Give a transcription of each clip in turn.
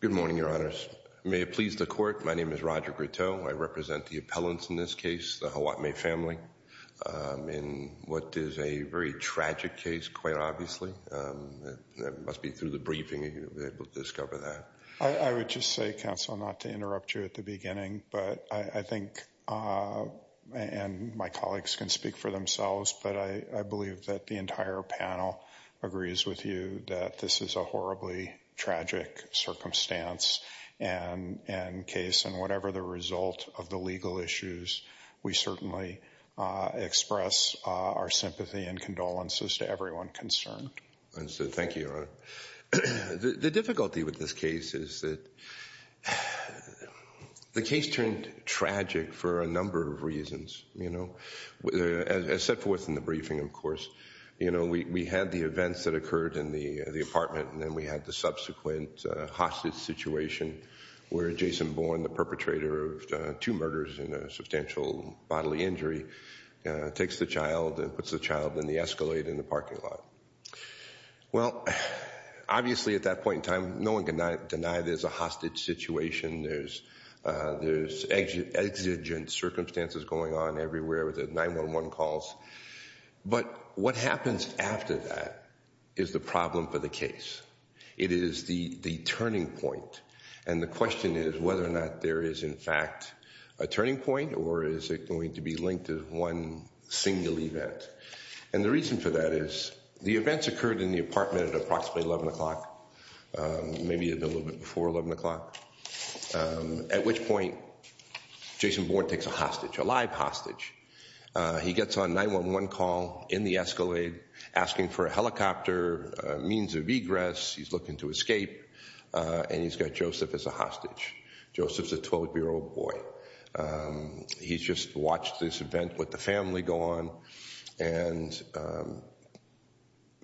Good morning, Your Honors. May it please the Court, my name is Roger Groteau. I represent the appellants in this case, the Hawatmeh family, in what is a very tragic case, quite obviously. It must be through the briefing that you'll be able to discover that. I would just say, Counsel, not to interrupt you at the beginning, but I think, and my colleagues can speak for themselves, but I believe that the entire panel agrees with you that this is a horribly tragic circumstance and case, and whatever the result of the legal issues, we certainly express our sympathy and condolences to everyone concerned. Thank you, Your Honor. The difficulty with this case is that the case turned tragic for a number of reasons, you know. As set forth in the briefing, of course, you know, we had the events that occurred in the apartment and then we had the subsequent hostage situation where Jason Bourne, the perpetrator of two murders and a substantial bodily injury, takes the child and puts the child in the Escalade in the parking lot. Well, obviously at that point in time, no one can deny there's a hostage situation, there's exigent circumstances going on everywhere with the 911 calls, but what happens after that is the problem for the case. It is the turning point, and the question is whether or not there is in fact a turning point or is it going to be linked to one single event, and the reason for that is the events occurred in the apartment at approximately 11 o'clock, maybe a little bit before 11 o'clock, at which point Jason Bourne takes a hostage, a live hostage. He gets on 911 call in the Escalade asking for a helicopter, means of egress, he's looking to escape, and he's got Joseph as a hostage. Joseph's a 12-year-old boy. He's just watched this event with the family go on, and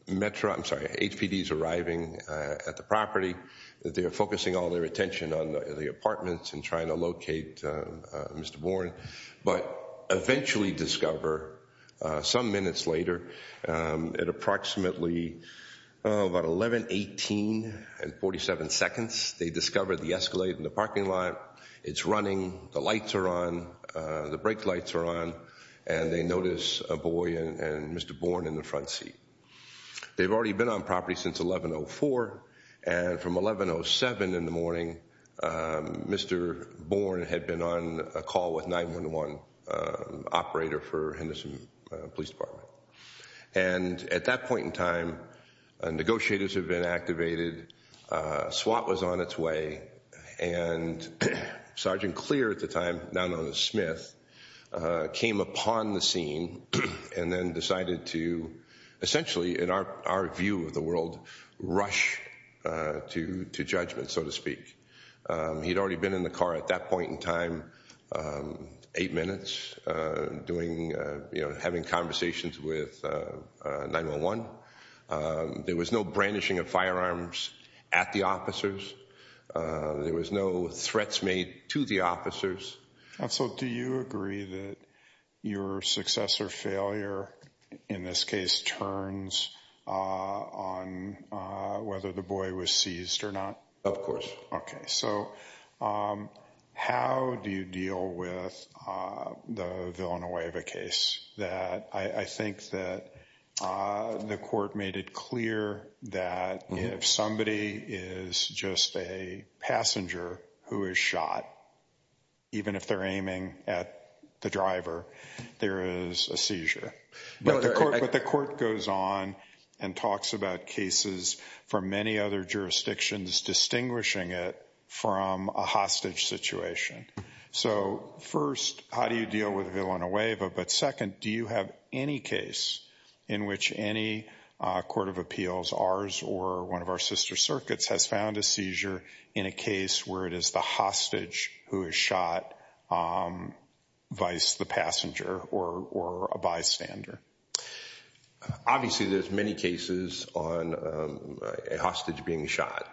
Metro, I'm sorry, HPD's arriving at the property, they're focusing all their attention on the apartments and trying to locate Mr. Bourne, but eventually discover some minutes later, at approximately about 11, 18, and 47 seconds, they discover the Escalade in the parking lot, it's running, the lights are on, the brake lights are on, and they notice a boy and Mr. Bourne in the front seat. They've already been on property since 11.04, and from 11.07 in the morning, Mr. Bourne had been on a call with 911 operator for Henderson Police Department. And at that point in time, negotiators had been activated, SWAT was on its way, and Sergeant Clear at the time, now known as Smith, came upon the scene and then decided to, essentially in our view of the world, rush to judgment, so to speak. He'd already been in the car at that point in time, eight minutes, having conversations with 911. There was no brandishing of firearms at the officers. There was no threats made to the officers. And so do you agree that your success or failure in this case turns on whether the boy was seized or not? Okay, so how do you deal with the Villanueva case? I think that the court made it clear that if somebody is just a passenger who is shot, even if they're aiming at the driver, there is a seizure. But the court goes on and talks about cases from many other jurisdictions distinguishing it from a hostage situation. So first, how do you deal with Villanueva? But second, do you have any case in which any court of appeals, ours or one of our sister circuits, has found a seizure in a case where it is the hostage who is shot, vice the passenger or a bystander? Obviously, there's many cases on a hostage being shot.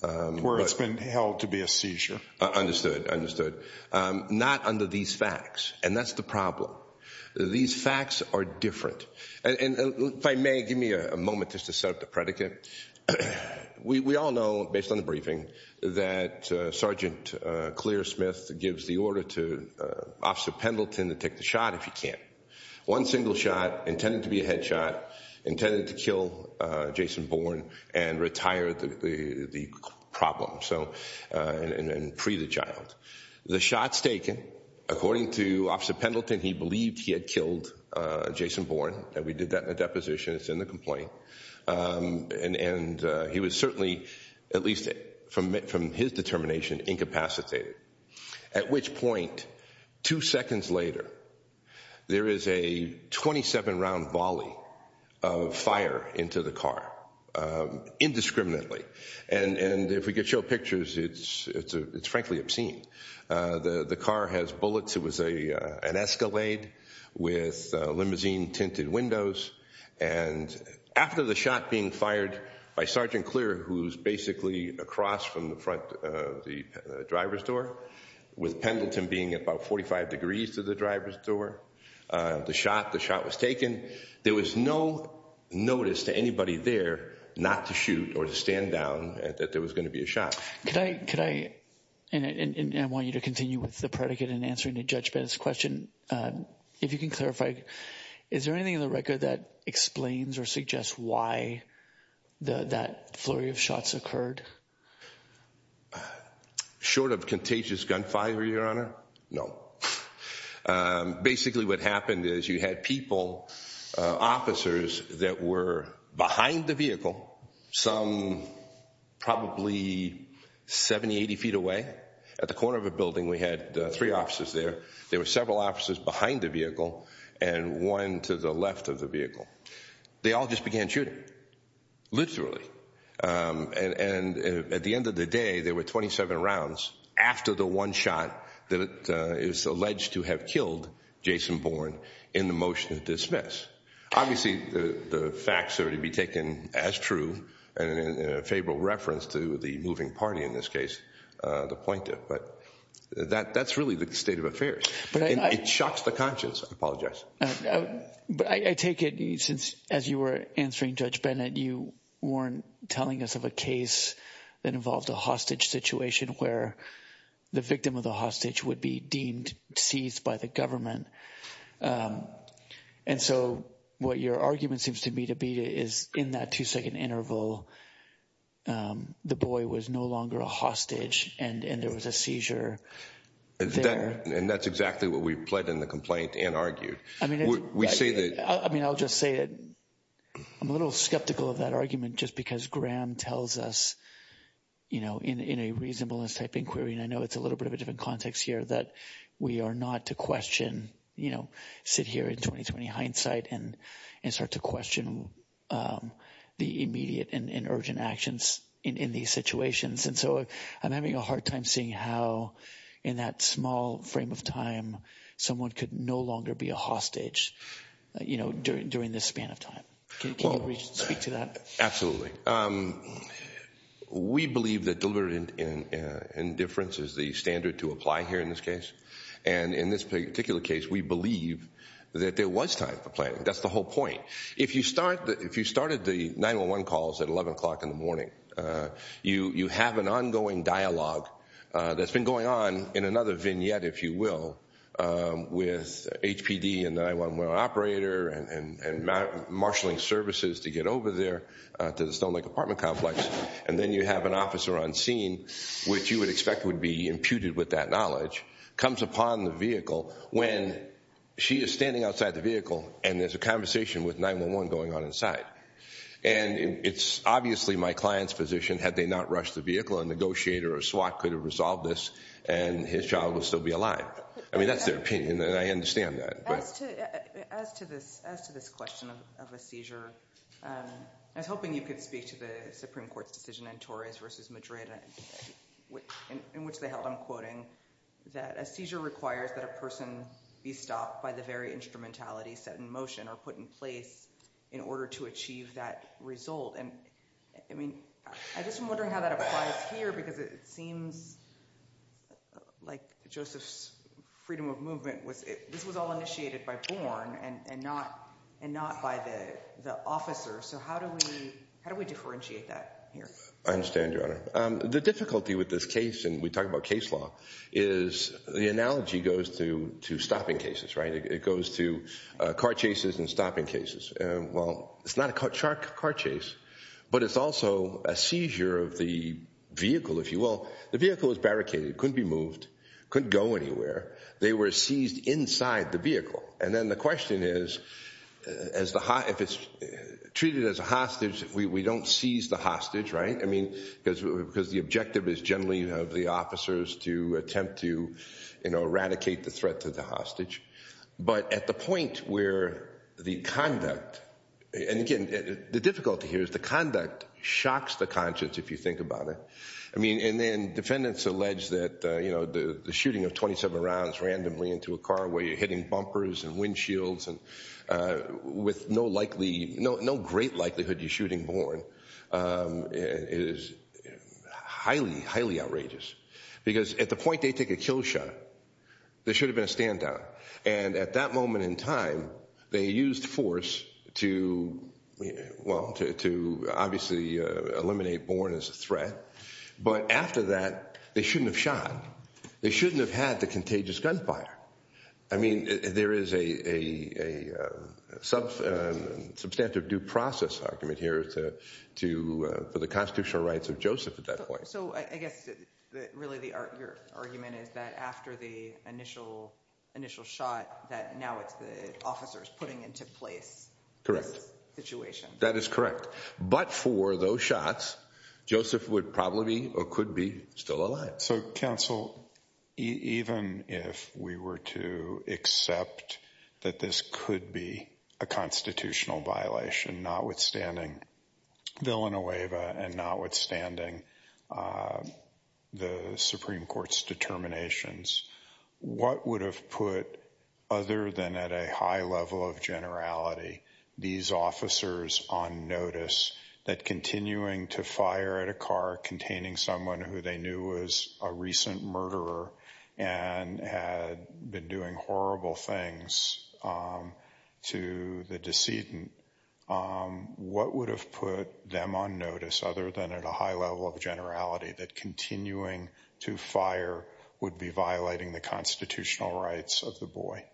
Where it's been held to be a seizure. Understood, understood. Not under these facts. And that's the problem. These facts are different. And if I may, give me a moment just to set up the predicate. We all know, based on the briefing, that Sergeant Clear Smith gives the order to Officer Pendleton to take the shot if he can. One single shot, intended to be a headshot, intended to kill Jason Bourne and retire the problem. And free the child. The shot's taken. According to Officer Pendleton, he believed he had killed Jason Bourne. And we did that in a deposition. It's in the complaint. And he was certainly, at least from his determination, incapacitated. At which point, two seconds later, there is a 27-round volley of fire into the car, indiscriminately. And if we could show pictures, it's frankly obscene. The car has bullets. It was an Escalade with limousine-tinted windows. And after the shot being fired by Sergeant Clear, who's basically across from the front of the driver's door, with Pendleton being about 45 degrees to the driver's door, the shot was taken. There was no notice to anybody there not to shoot or to stand down that there was going to be a shot. Could I, and I want you to continue with the predicate in answering to Judge Bennett's question, if you can clarify, is there anything in the record that explains or suggests why that flurry of shots occurred? Short of contagious gunfire, Your Honor? No. Basically what happened is you had people, officers, that were behind the vehicle, some probably 70, 80 feet away. At the corner of a building, we had three officers there. There were several officers behind the vehicle and one to the left of the vehicle. They all just began shooting, literally. And at the end of the day, there were 27 rounds after the one shot that is alleged to have killed Jason Bourne in the motion to dismiss. Obviously, the facts are to be taken as true in a favorable reference to the moving party in this case, the plaintiff. But that's really the state of affairs. It shocks the conscience. I apologize. But I take it, as you were answering Judge Bennett, you weren't telling us of a case that involved a hostage situation where the victim of the hostage would be deemed seized by the government. And so what your argument seems to me to be is in that two second interval, the boy was no longer a hostage and there was a seizure there. And that's exactly what we've pledged in the complaint and argued. I mean, I'll just say that I'm a little skeptical of that argument just because Graham tells us, you know, in a reasonableness type inquiry. And I know it's a little bit of a different context here that we are not to question, you know, sit here in 20-20 hindsight and start to question the immediate and urgent actions in these situations. And so I'm having a hard time seeing how, in that small frame of time, someone could no longer be a hostage, you know, during this span of time. Can you speak to that? Absolutely. We believe that deliberate indifference is the standard to apply here in this case. And in this particular case, we believe that there was time for planning. That's the whole point. If you started the 911 calls at 11 o'clock in the morning, you have an ongoing dialogue that's been going on in another vignette, if you will, with HPD and 911 operator and marshalling services to get over there to the Stone Lake apartment complex. And then you have an officer on scene, which you would expect would be imputed with that knowledge, comes upon the vehicle when she is standing outside the vehicle and there's a conversation with 911 going on inside. And it's obviously my client's position, had they not rushed the vehicle, a negotiator or a SWAT could have resolved this and his child would still be alive. I mean, that's their opinion and I understand that. As to this question of a seizure, I was hoping you could speak to the Supreme Court's decision in Torres v. Madrid, in which they held, I'm quoting, that a seizure requires that a person be stopped by the very instrumentality set in motion or put in place in order to achieve that result. And, I mean, I'm just wondering how that applies here because it seems like Joseph's freedom of movement, this was all initiated by Bourne and not by the officer. So how do we differentiate that here? I understand, Your Honor. The difficulty with this case, and we talk about case law, is the analogy goes to stopping cases, right? It goes to car chases and stopping cases. Well, it's not a car chase, but it's also a seizure of the vehicle, if you will. The vehicle was barricaded, couldn't be moved, couldn't go anywhere. They were seized inside the vehicle. And then the question is, if it's treated as a hostage, we don't seize the hostage, right? I mean, because the objective is generally of the officers to attempt to eradicate the threat to the hostage. But at the point where the conduct, and again, the difficulty here is the conduct shocks the conscience, if you think about it. I mean, and then defendants allege that, you know, the shooting of 27 rounds randomly into a car where you're hitting bumpers and windshields and with no likely, no great likelihood you're shooting Bourne is highly, highly outrageous. Because at the point they take a kill shot, there should have been a stand down. And at that moment in time, they used force to, well, to obviously eliminate Bourne as a threat. But after that, they shouldn't have shot. They shouldn't have had the contagious gunfire. I mean, there is a substantive due process argument here for the constitutional rights of Joseph at that point. So I guess really the argument is that after the initial initial shot that now it's the officers putting into place. Correct. That is correct. But for those shots, Joseph would probably or could be still alive. So counsel, even if we were to accept that this could be a constitutional violation, notwithstanding Villanueva and notwithstanding the Supreme Court's determinations. What would have put other than at a high level of generality these officers on notice that continuing to fire at a car containing someone who they knew was a recent murderer and had been doing horrible things to the decedent? What would have put them on notice other than at a high level of generality that continuing to fire would be violating the constitutional rights of the boy?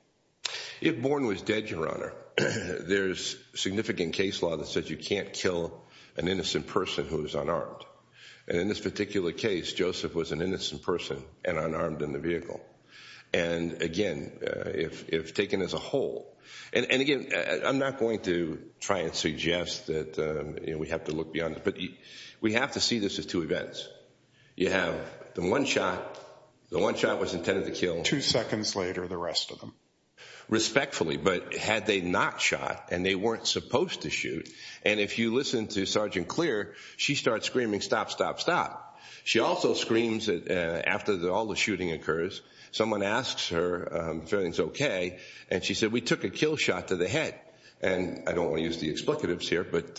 If Bourne was dead, Your Honor, there's significant case law that says you can't kill an innocent person who is unarmed. And in this particular case, Joseph was an innocent person and unarmed in the vehicle. And again, if taken as a whole, and again, I'm not going to try and suggest that we have to look beyond. But we have to see this as two events. You have the one shot. The one shot was intended to kill. Two seconds later, the rest of them. Respectfully, but had they not shot and they weren't supposed to shoot. And if you listen to Sergeant Clear, she starts screaming, stop, stop, stop. She also screams that after all the shooting occurs, someone asks her if everything's OK. And she said, we took a kill shot to the head. And I don't want to use the explicatives here, but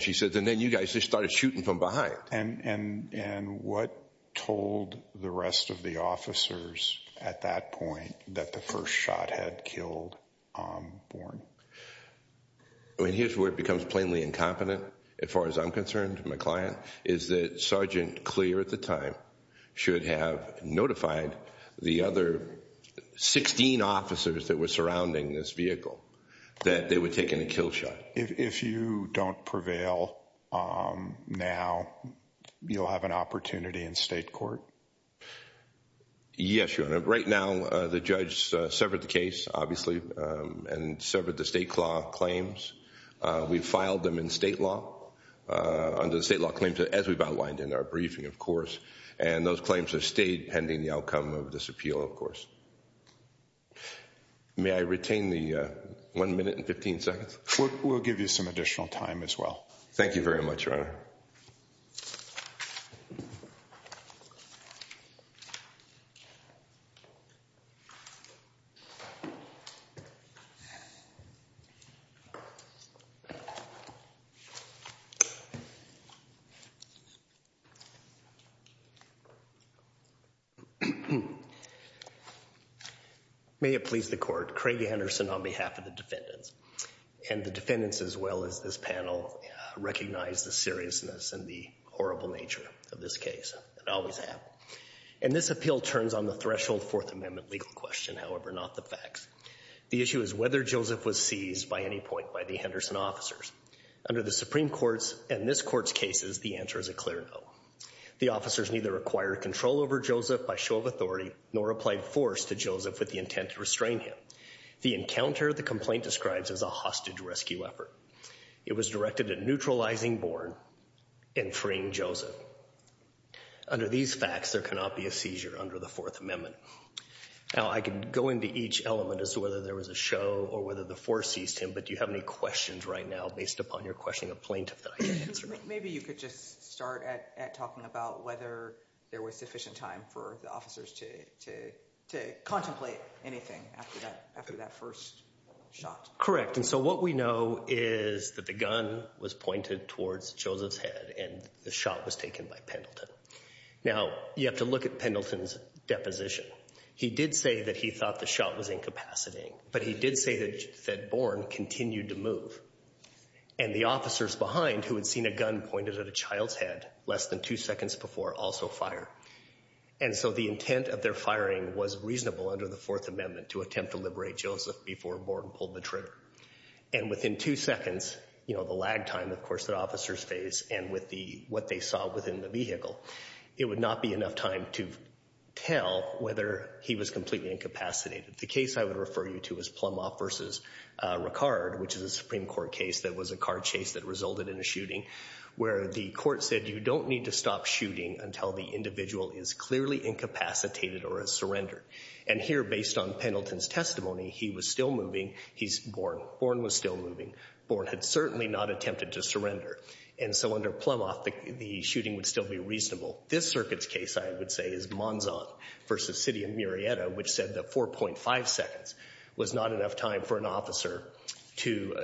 she said, and then you guys just started shooting from behind. And what told the rest of the officers at that point that the first shot had killed Bourne? I mean, here's where it becomes plainly incompetent. As far as I'm concerned, my client, is that Sergeant Clear at the time should have notified the other 16 officers that were surrounding this vehicle that they were taking a kill shot. But if you don't prevail now, you'll have an opportunity in state court. Yes, Your Honor. Right now, the judge severed the case, obviously, and severed the state claims. We filed them in state law under the state law claims, as we've outlined in our briefing, of course. And those claims have stayed pending the outcome of this appeal, of course. May I retain the one minute and 15 seconds? We'll give you some additional time as well. Thank you very much, Your Honor. May it please the court. Craig Henderson on behalf of the defendants. And the defendants, as well as this panel, recognize the seriousness and the horrible nature of this case, and always have. And this appeal turns on the threshold Fourth Amendment legal question, however not the facts. The issue is whether Joseph was seized by any point by the Henderson officers. Under the Supreme Court's and this court's cases, the answer is a clear no. The officers neither acquired control over Joseph by show of authority nor applied force to Joseph with the intent to restrain him. The encounter the complaint describes is a hostage rescue effort. It was directed at neutralizing Bourne and freeing Joseph. Under these facts, there cannot be a seizure under the Fourth Amendment. Now, I could go into each element as to whether there was a show or whether the force seized him, but do you have any questions right now based upon your question of plaintiff that I can answer? Maybe you could just start at talking about whether there was sufficient time for the officers to contemplate anything after that first shot. Correct. And so what we know is that the gun was pointed towards Joseph's head and the shot was taken by Pendleton. Now, you have to look at Pendleton's deposition. He did say that he thought the shot was incapacitating, but he did say that Bourne continued to move. And the officers behind, who had seen a gun pointed at a child's head less than two seconds before, also fired. And so the intent of their firing was reasonable under the Fourth Amendment to attempt to liberate Joseph before Bourne pulled the trigger. And within two seconds, you know, the lag time, of course, that officers face and with what they saw within the vehicle, it would not be enough time to tell whether he was completely incapacitated. The case I would refer you to is Plumhoff v. Ricard, which is a Supreme Court case that was a car chase that resulted in a shooting, where the court said you don't need to stop shooting until the individual is clearly incapacitated or has surrendered. And here, based on Pendleton's testimony, he was still moving. He's Bourne. Bourne was still moving. Bourne had certainly not attempted to surrender. And so under Plumhoff, the shooting would still be reasonable. This circuit's case, I would say, is Monzon v. City of Murrieta, which said that 4.5 seconds was not enough time for an officer to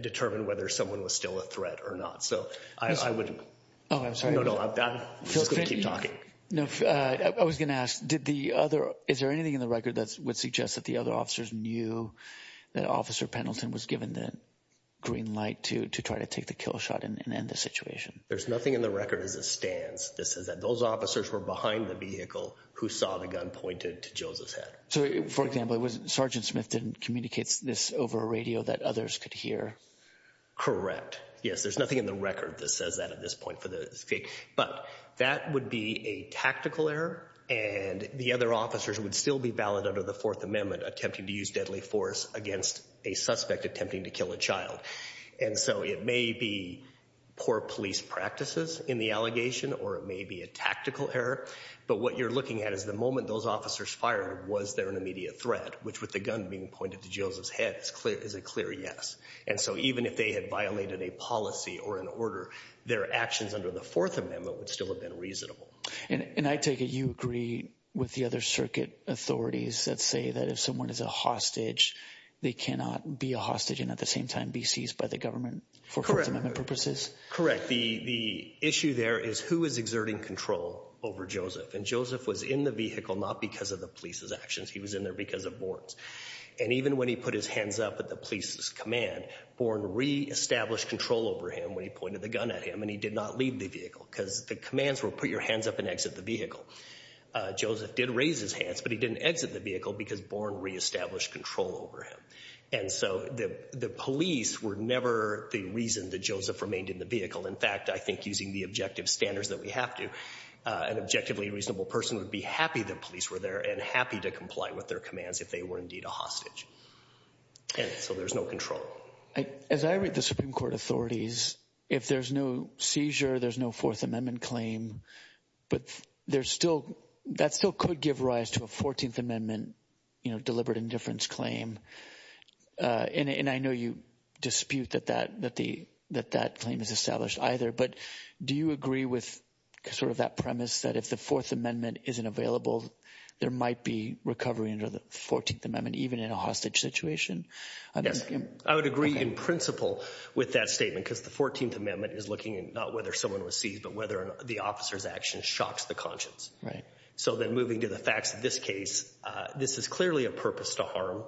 determine whether someone was still a threat or not. So I would— Oh, I'm sorry. No, no, I'm just going to keep talking. No, I was going to ask, is there anything in the record that would suggest that the other officers knew that Officer Pendleton was given the green light to try to take the kill shot and end the situation? There's nothing in the record as it stands that says that those officers were behind the vehicle who saw the gun pointed to Joseph's head. So, for example, Sergeant Smith didn't communicate this over a radio that others could hear? Correct. Yes, there's nothing in the record that says that at this point for this case. But that would be a tactical error, and the other officers would still be valid under the Fourth Amendment, attempting to use deadly force against a suspect attempting to kill a child. And so it may be poor police practices in the allegation, or it may be a tactical error. But what you're looking at is the moment those officers fired, was there an immediate threat, which with the gun being pointed to Joseph's head is a clear yes. And so even if they had violated a policy or an order, their actions under the Fourth Amendment would still have been reasonable. And I take it you agree with the other circuit authorities that say that if someone is a hostage, they cannot be a hostage and at the same time be seized by the government for Fourth Amendment purposes? Correct. The issue there is who is exerting control over Joseph? And Joseph was in the vehicle not because of the police's actions. He was in there because of Bourne's. And even when he put his hands up at the police's command, Bourne re-established control over him when he pointed the gun at him, and he did not leave the vehicle because the commands were put your hands up and exit the vehicle. Joseph did raise his hands, but he didn't exit the vehicle because Bourne re-established control over him. And so the police were never the reason that Joseph remained in the vehicle. In fact, I think using the objective standards that we have to, an objectively reasonable person would be happy that police were there and happy to comply with their commands if they were indeed a hostage. And so there's no control. As I read the Supreme Court authorities, if there's no seizure, there's no Fourth Amendment claim. But there's still that still could give rise to a 14th Amendment, you know, deliberate indifference claim. And I know you dispute that that that the that that claim is established either. But do you agree with sort of that premise that if the Fourth Amendment isn't available, there might be recovery under the 14th Amendment, even in a hostage situation? I would agree in principle with that statement because the 14th Amendment is looking at not whether someone was seized, but whether the officer's action shocks the conscience. Right. So then moving to the facts of this case, this is clearly a purpose to harm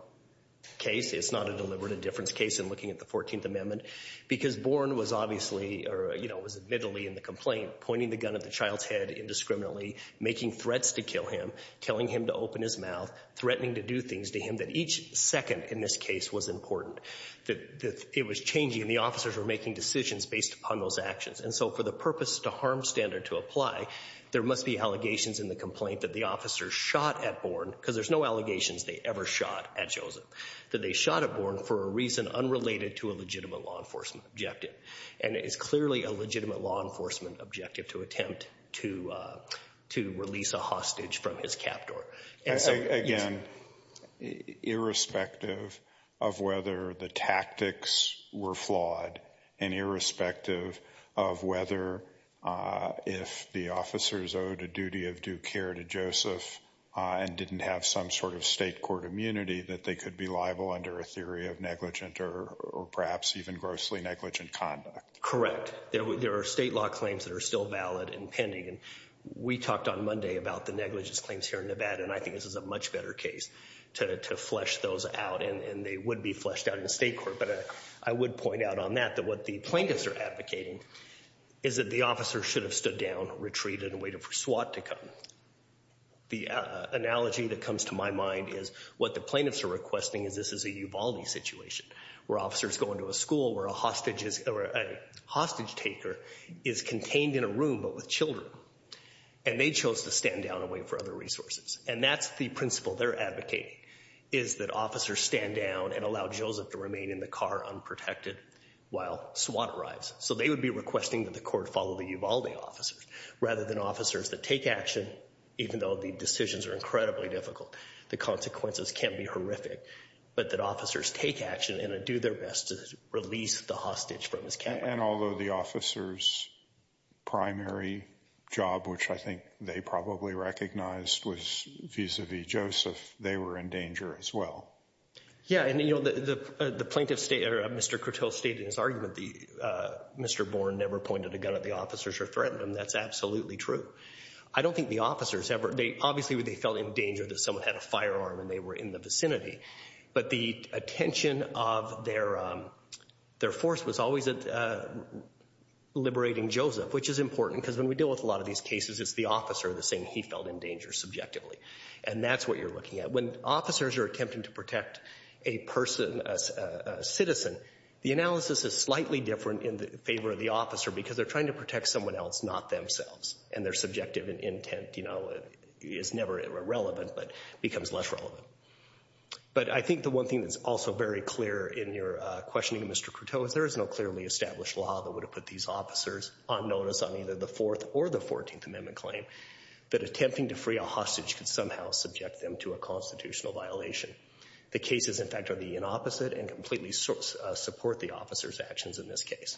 case. It's not a deliberate indifference case. And looking at the 14th Amendment, because Bourne was obviously or, you know, was admittedly in the complaint pointing the gun at the child's head indiscriminately, making threats to kill him, telling him to open his mouth, threatening to do things to him that each second in this case was important, that it was changing and the officers were making decisions based upon those actions. And so for the purpose to harm standard to apply, there must be allegations in the complaint that the officers shot at Bourne, because there's no allegations they ever shot at Joseph, that they shot at Bourne for a reason unrelated to a legitimate law enforcement objective. And it is clearly a legitimate law enforcement objective to attempt to to release a hostage from his cap door. And so, again, irrespective of whether the tactics were flawed and irrespective of whether if the officers owed a duty of due care to Joseph and didn't have some sort of state court immunity that they could be liable under a theory of negligent or perhaps even grossly negligent conduct. Correct. There are state law claims that are still valid and pending. And we talked on Monday about the negligence claims here in Nevada, and I think this is a much better case to flesh those out. And they would be fleshed out in the state court. But I would point out on that that what the plaintiffs are advocating is that the officer should have stood down, retreated, and waited for SWAT to come. The analogy that comes to my mind is what the plaintiffs are requesting is this is a Uvalde situation, where officers go into a school where a hostage taker is contained in a room but with children. And they chose to stand down and wait for other resources. And that's the principle they're advocating is that officers stand down and allow Joseph to remain in the car unprotected while SWAT arrives. So they would be requesting that the court follow the Uvalde officers rather than officers that take action even though the decisions are incredibly difficult. The consequences can be horrific. But that officers take action and do their best to release the hostage from his camera. And although the officer's primary job, which I think they probably recognized, was vis-a-vis Joseph, they were in danger as well. Yeah, and the plaintiff stated, or Mr. Kurtil stated in his argument, Mr. Bourne never pointed a gun at the officers or threatened them. That's absolutely true. I don't think the officers ever—obviously they felt in danger that someone had a firearm and they were in the vicinity. But the attention of their force was always at liberating Joseph, which is important because when we deal with a lot of these cases, it's the officer that's saying he felt in danger subjectively. And that's what you're looking at. When officers are attempting to protect a person, a citizen, the analysis is slightly different in favor of the officer because they're trying to protect someone else, not themselves. And their subjective intent is never irrelevant but becomes less relevant. But I think the one thing that's also very clear in your questioning, Mr. Kurtil, is there is no clearly established law that would have put these officers on notice on either the Fourth or the Fourteenth Amendment claim that attempting to free a hostage could somehow subject them to a constitutional violation. The cases, in fact, are the opposite and completely support the officer's actions in this case.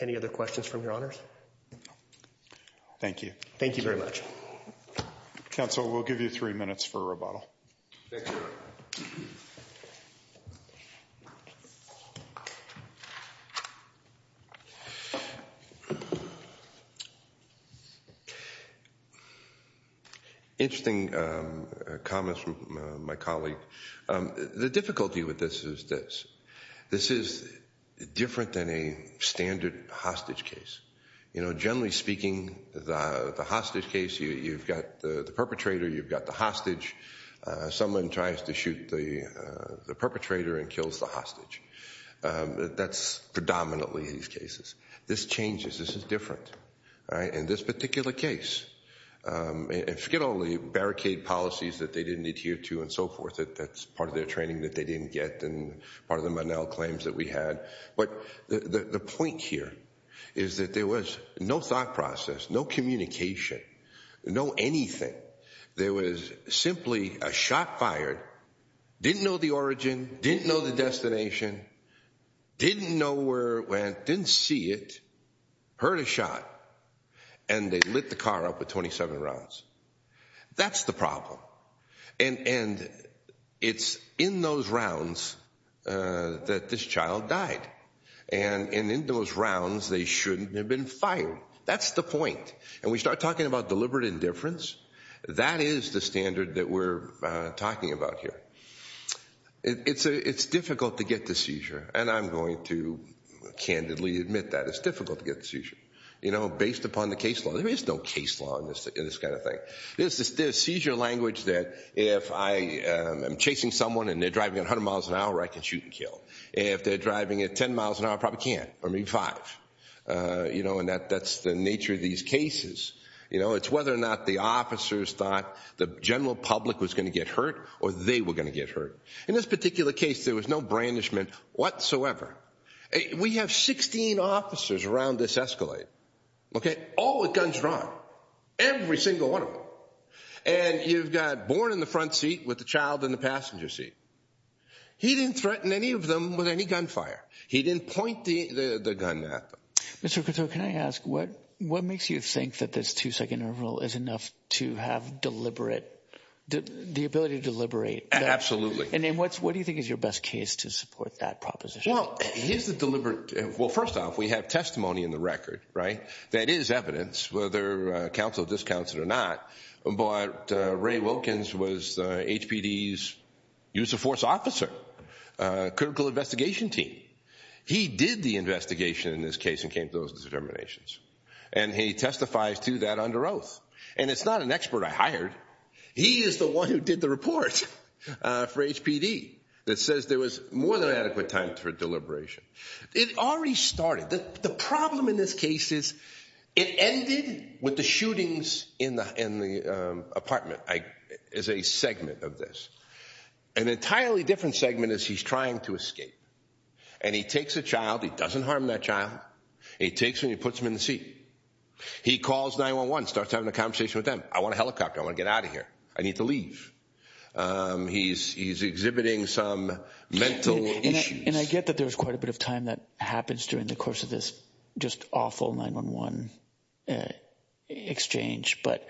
Any other questions from your honors? Thank you. Thank you very much. Counsel, we'll give you three minutes for rebuttal. Interesting comments from my colleague. The difficulty with this is this. This is different than a standard hostage case. You know, generally speaking, the hostage case, you've got the perpetrator, you've got the hostage. Someone tries to shoot the perpetrator and kills the hostage. That's predominantly these cases. This changes. This is different. In this particular case, forget only barricade policies that they didn't adhere to and so forth. That's part of their training that they didn't get and part of the Monell claims that we had. But the point here is that there was no thought process, no communication, no anything. There was simply a shot fired, didn't know the origin, didn't know the destination, didn't know where it went, didn't see it, heard a shot, and they lit the car up with 27 rounds. That's the problem. And it's in those rounds that this child died. And in those rounds, they shouldn't have been fired. That's the point. And we start talking about deliberate indifference. That is the standard that we're talking about here. It's difficult to get the seizure, and I'm going to candidly admit that. It's difficult to get the seizure, you know, based upon the case law. There is no case law in this kind of thing. There is seizure language that if I am chasing someone and they're driving at 100 miles an hour, I can shoot and kill. If they're driving at 10 miles an hour, I probably can't, or maybe five. You know, and that's the nature of these cases. It's whether or not the officers thought the general public was going to get hurt or they were going to get hurt. In this particular case, there was no brandishment whatsoever. We have 16 officers around this escalate. Okay, all with guns drawn, every single one of them. And you've got born in the front seat with the child in the passenger seat. He didn't threaten any of them with any gunfire. He didn't point the gun at them. Mr. Couture, can I ask, what makes you think that this two-second interval is enough to have deliberate, the ability to deliberate? Absolutely. And then what do you think is your best case to support that proposition? Well, here's the deliberate. Well, first off, we have testimony in the record, right, that is evidence, whether counsel discounts it or not. But Ray Wilkins was HPD's use of force officer, critical investigation team. He did the investigation in this case and came to those determinations. And he testifies to that under oath. And it's not an expert I hired. He is the one who did the report for HPD that says there was more than adequate time for deliberation. It already started. The problem in this case is it ended with the shootings in the apartment as a segment of this. An entirely different segment is he's trying to escape. And he takes a child. He doesn't harm that child. He takes him and he puts him in the seat. He calls 911, starts having a conversation with them. I want a helicopter. I want to get out of here. I need to leave. He's exhibiting some mental issues. And I get that there's quite a bit of time that happens during the course of this just awful 911 exchange. But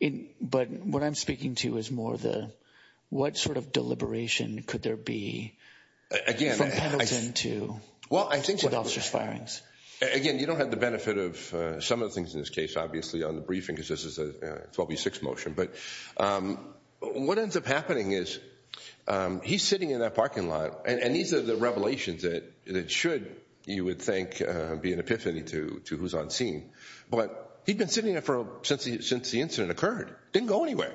what I'm speaking to is more the what sort of deliberation could there be from Pendleton to officers' firings? Again, you don't have the benefit of some of the things in this case, obviously, on the briefing, because this is a 12v6 motion. But what ends up happening is he's sitting in that parking lot. And these are the revelations that should, you would think, be an epiphany to who's on scene. But he'd been sitting there since the incident occurred. Didn't go anywhere.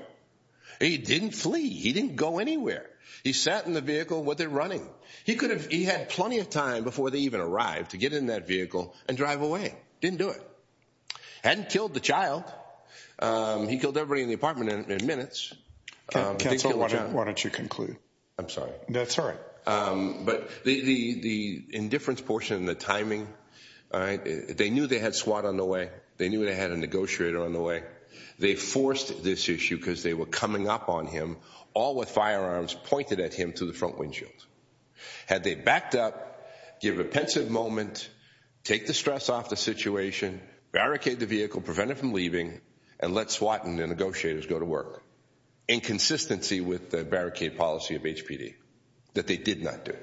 He didn't flee. He didn't go anywhere. He sat in the vehicle while they're running. He had plenty of time before they even arrived to get in that vehicle and drive away. Didn't do it. Hadn't killed the child. He killed everybody in the apartment in minutes. Why don't you conclude? I'm sorry. That's all right. But the indifference portion, the timing, they knew they had SWAT on the way. They knew they had a negotiator on the way. They forced this issue because they were coming up on him, all with firearms pointed at him through the front windshield. Had they backed up, give a pensive moment, take the stress off the situation, barricade the vehicle, prevent it from leaving, and let SWAT and the negotiators go to work, in consistency with the barricade policy of HPD, that they did not do.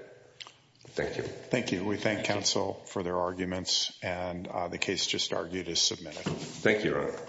Thank you. Thank you. We thank counsel for their arguments. And the case just argued is submitted. Thank you, Your Honor.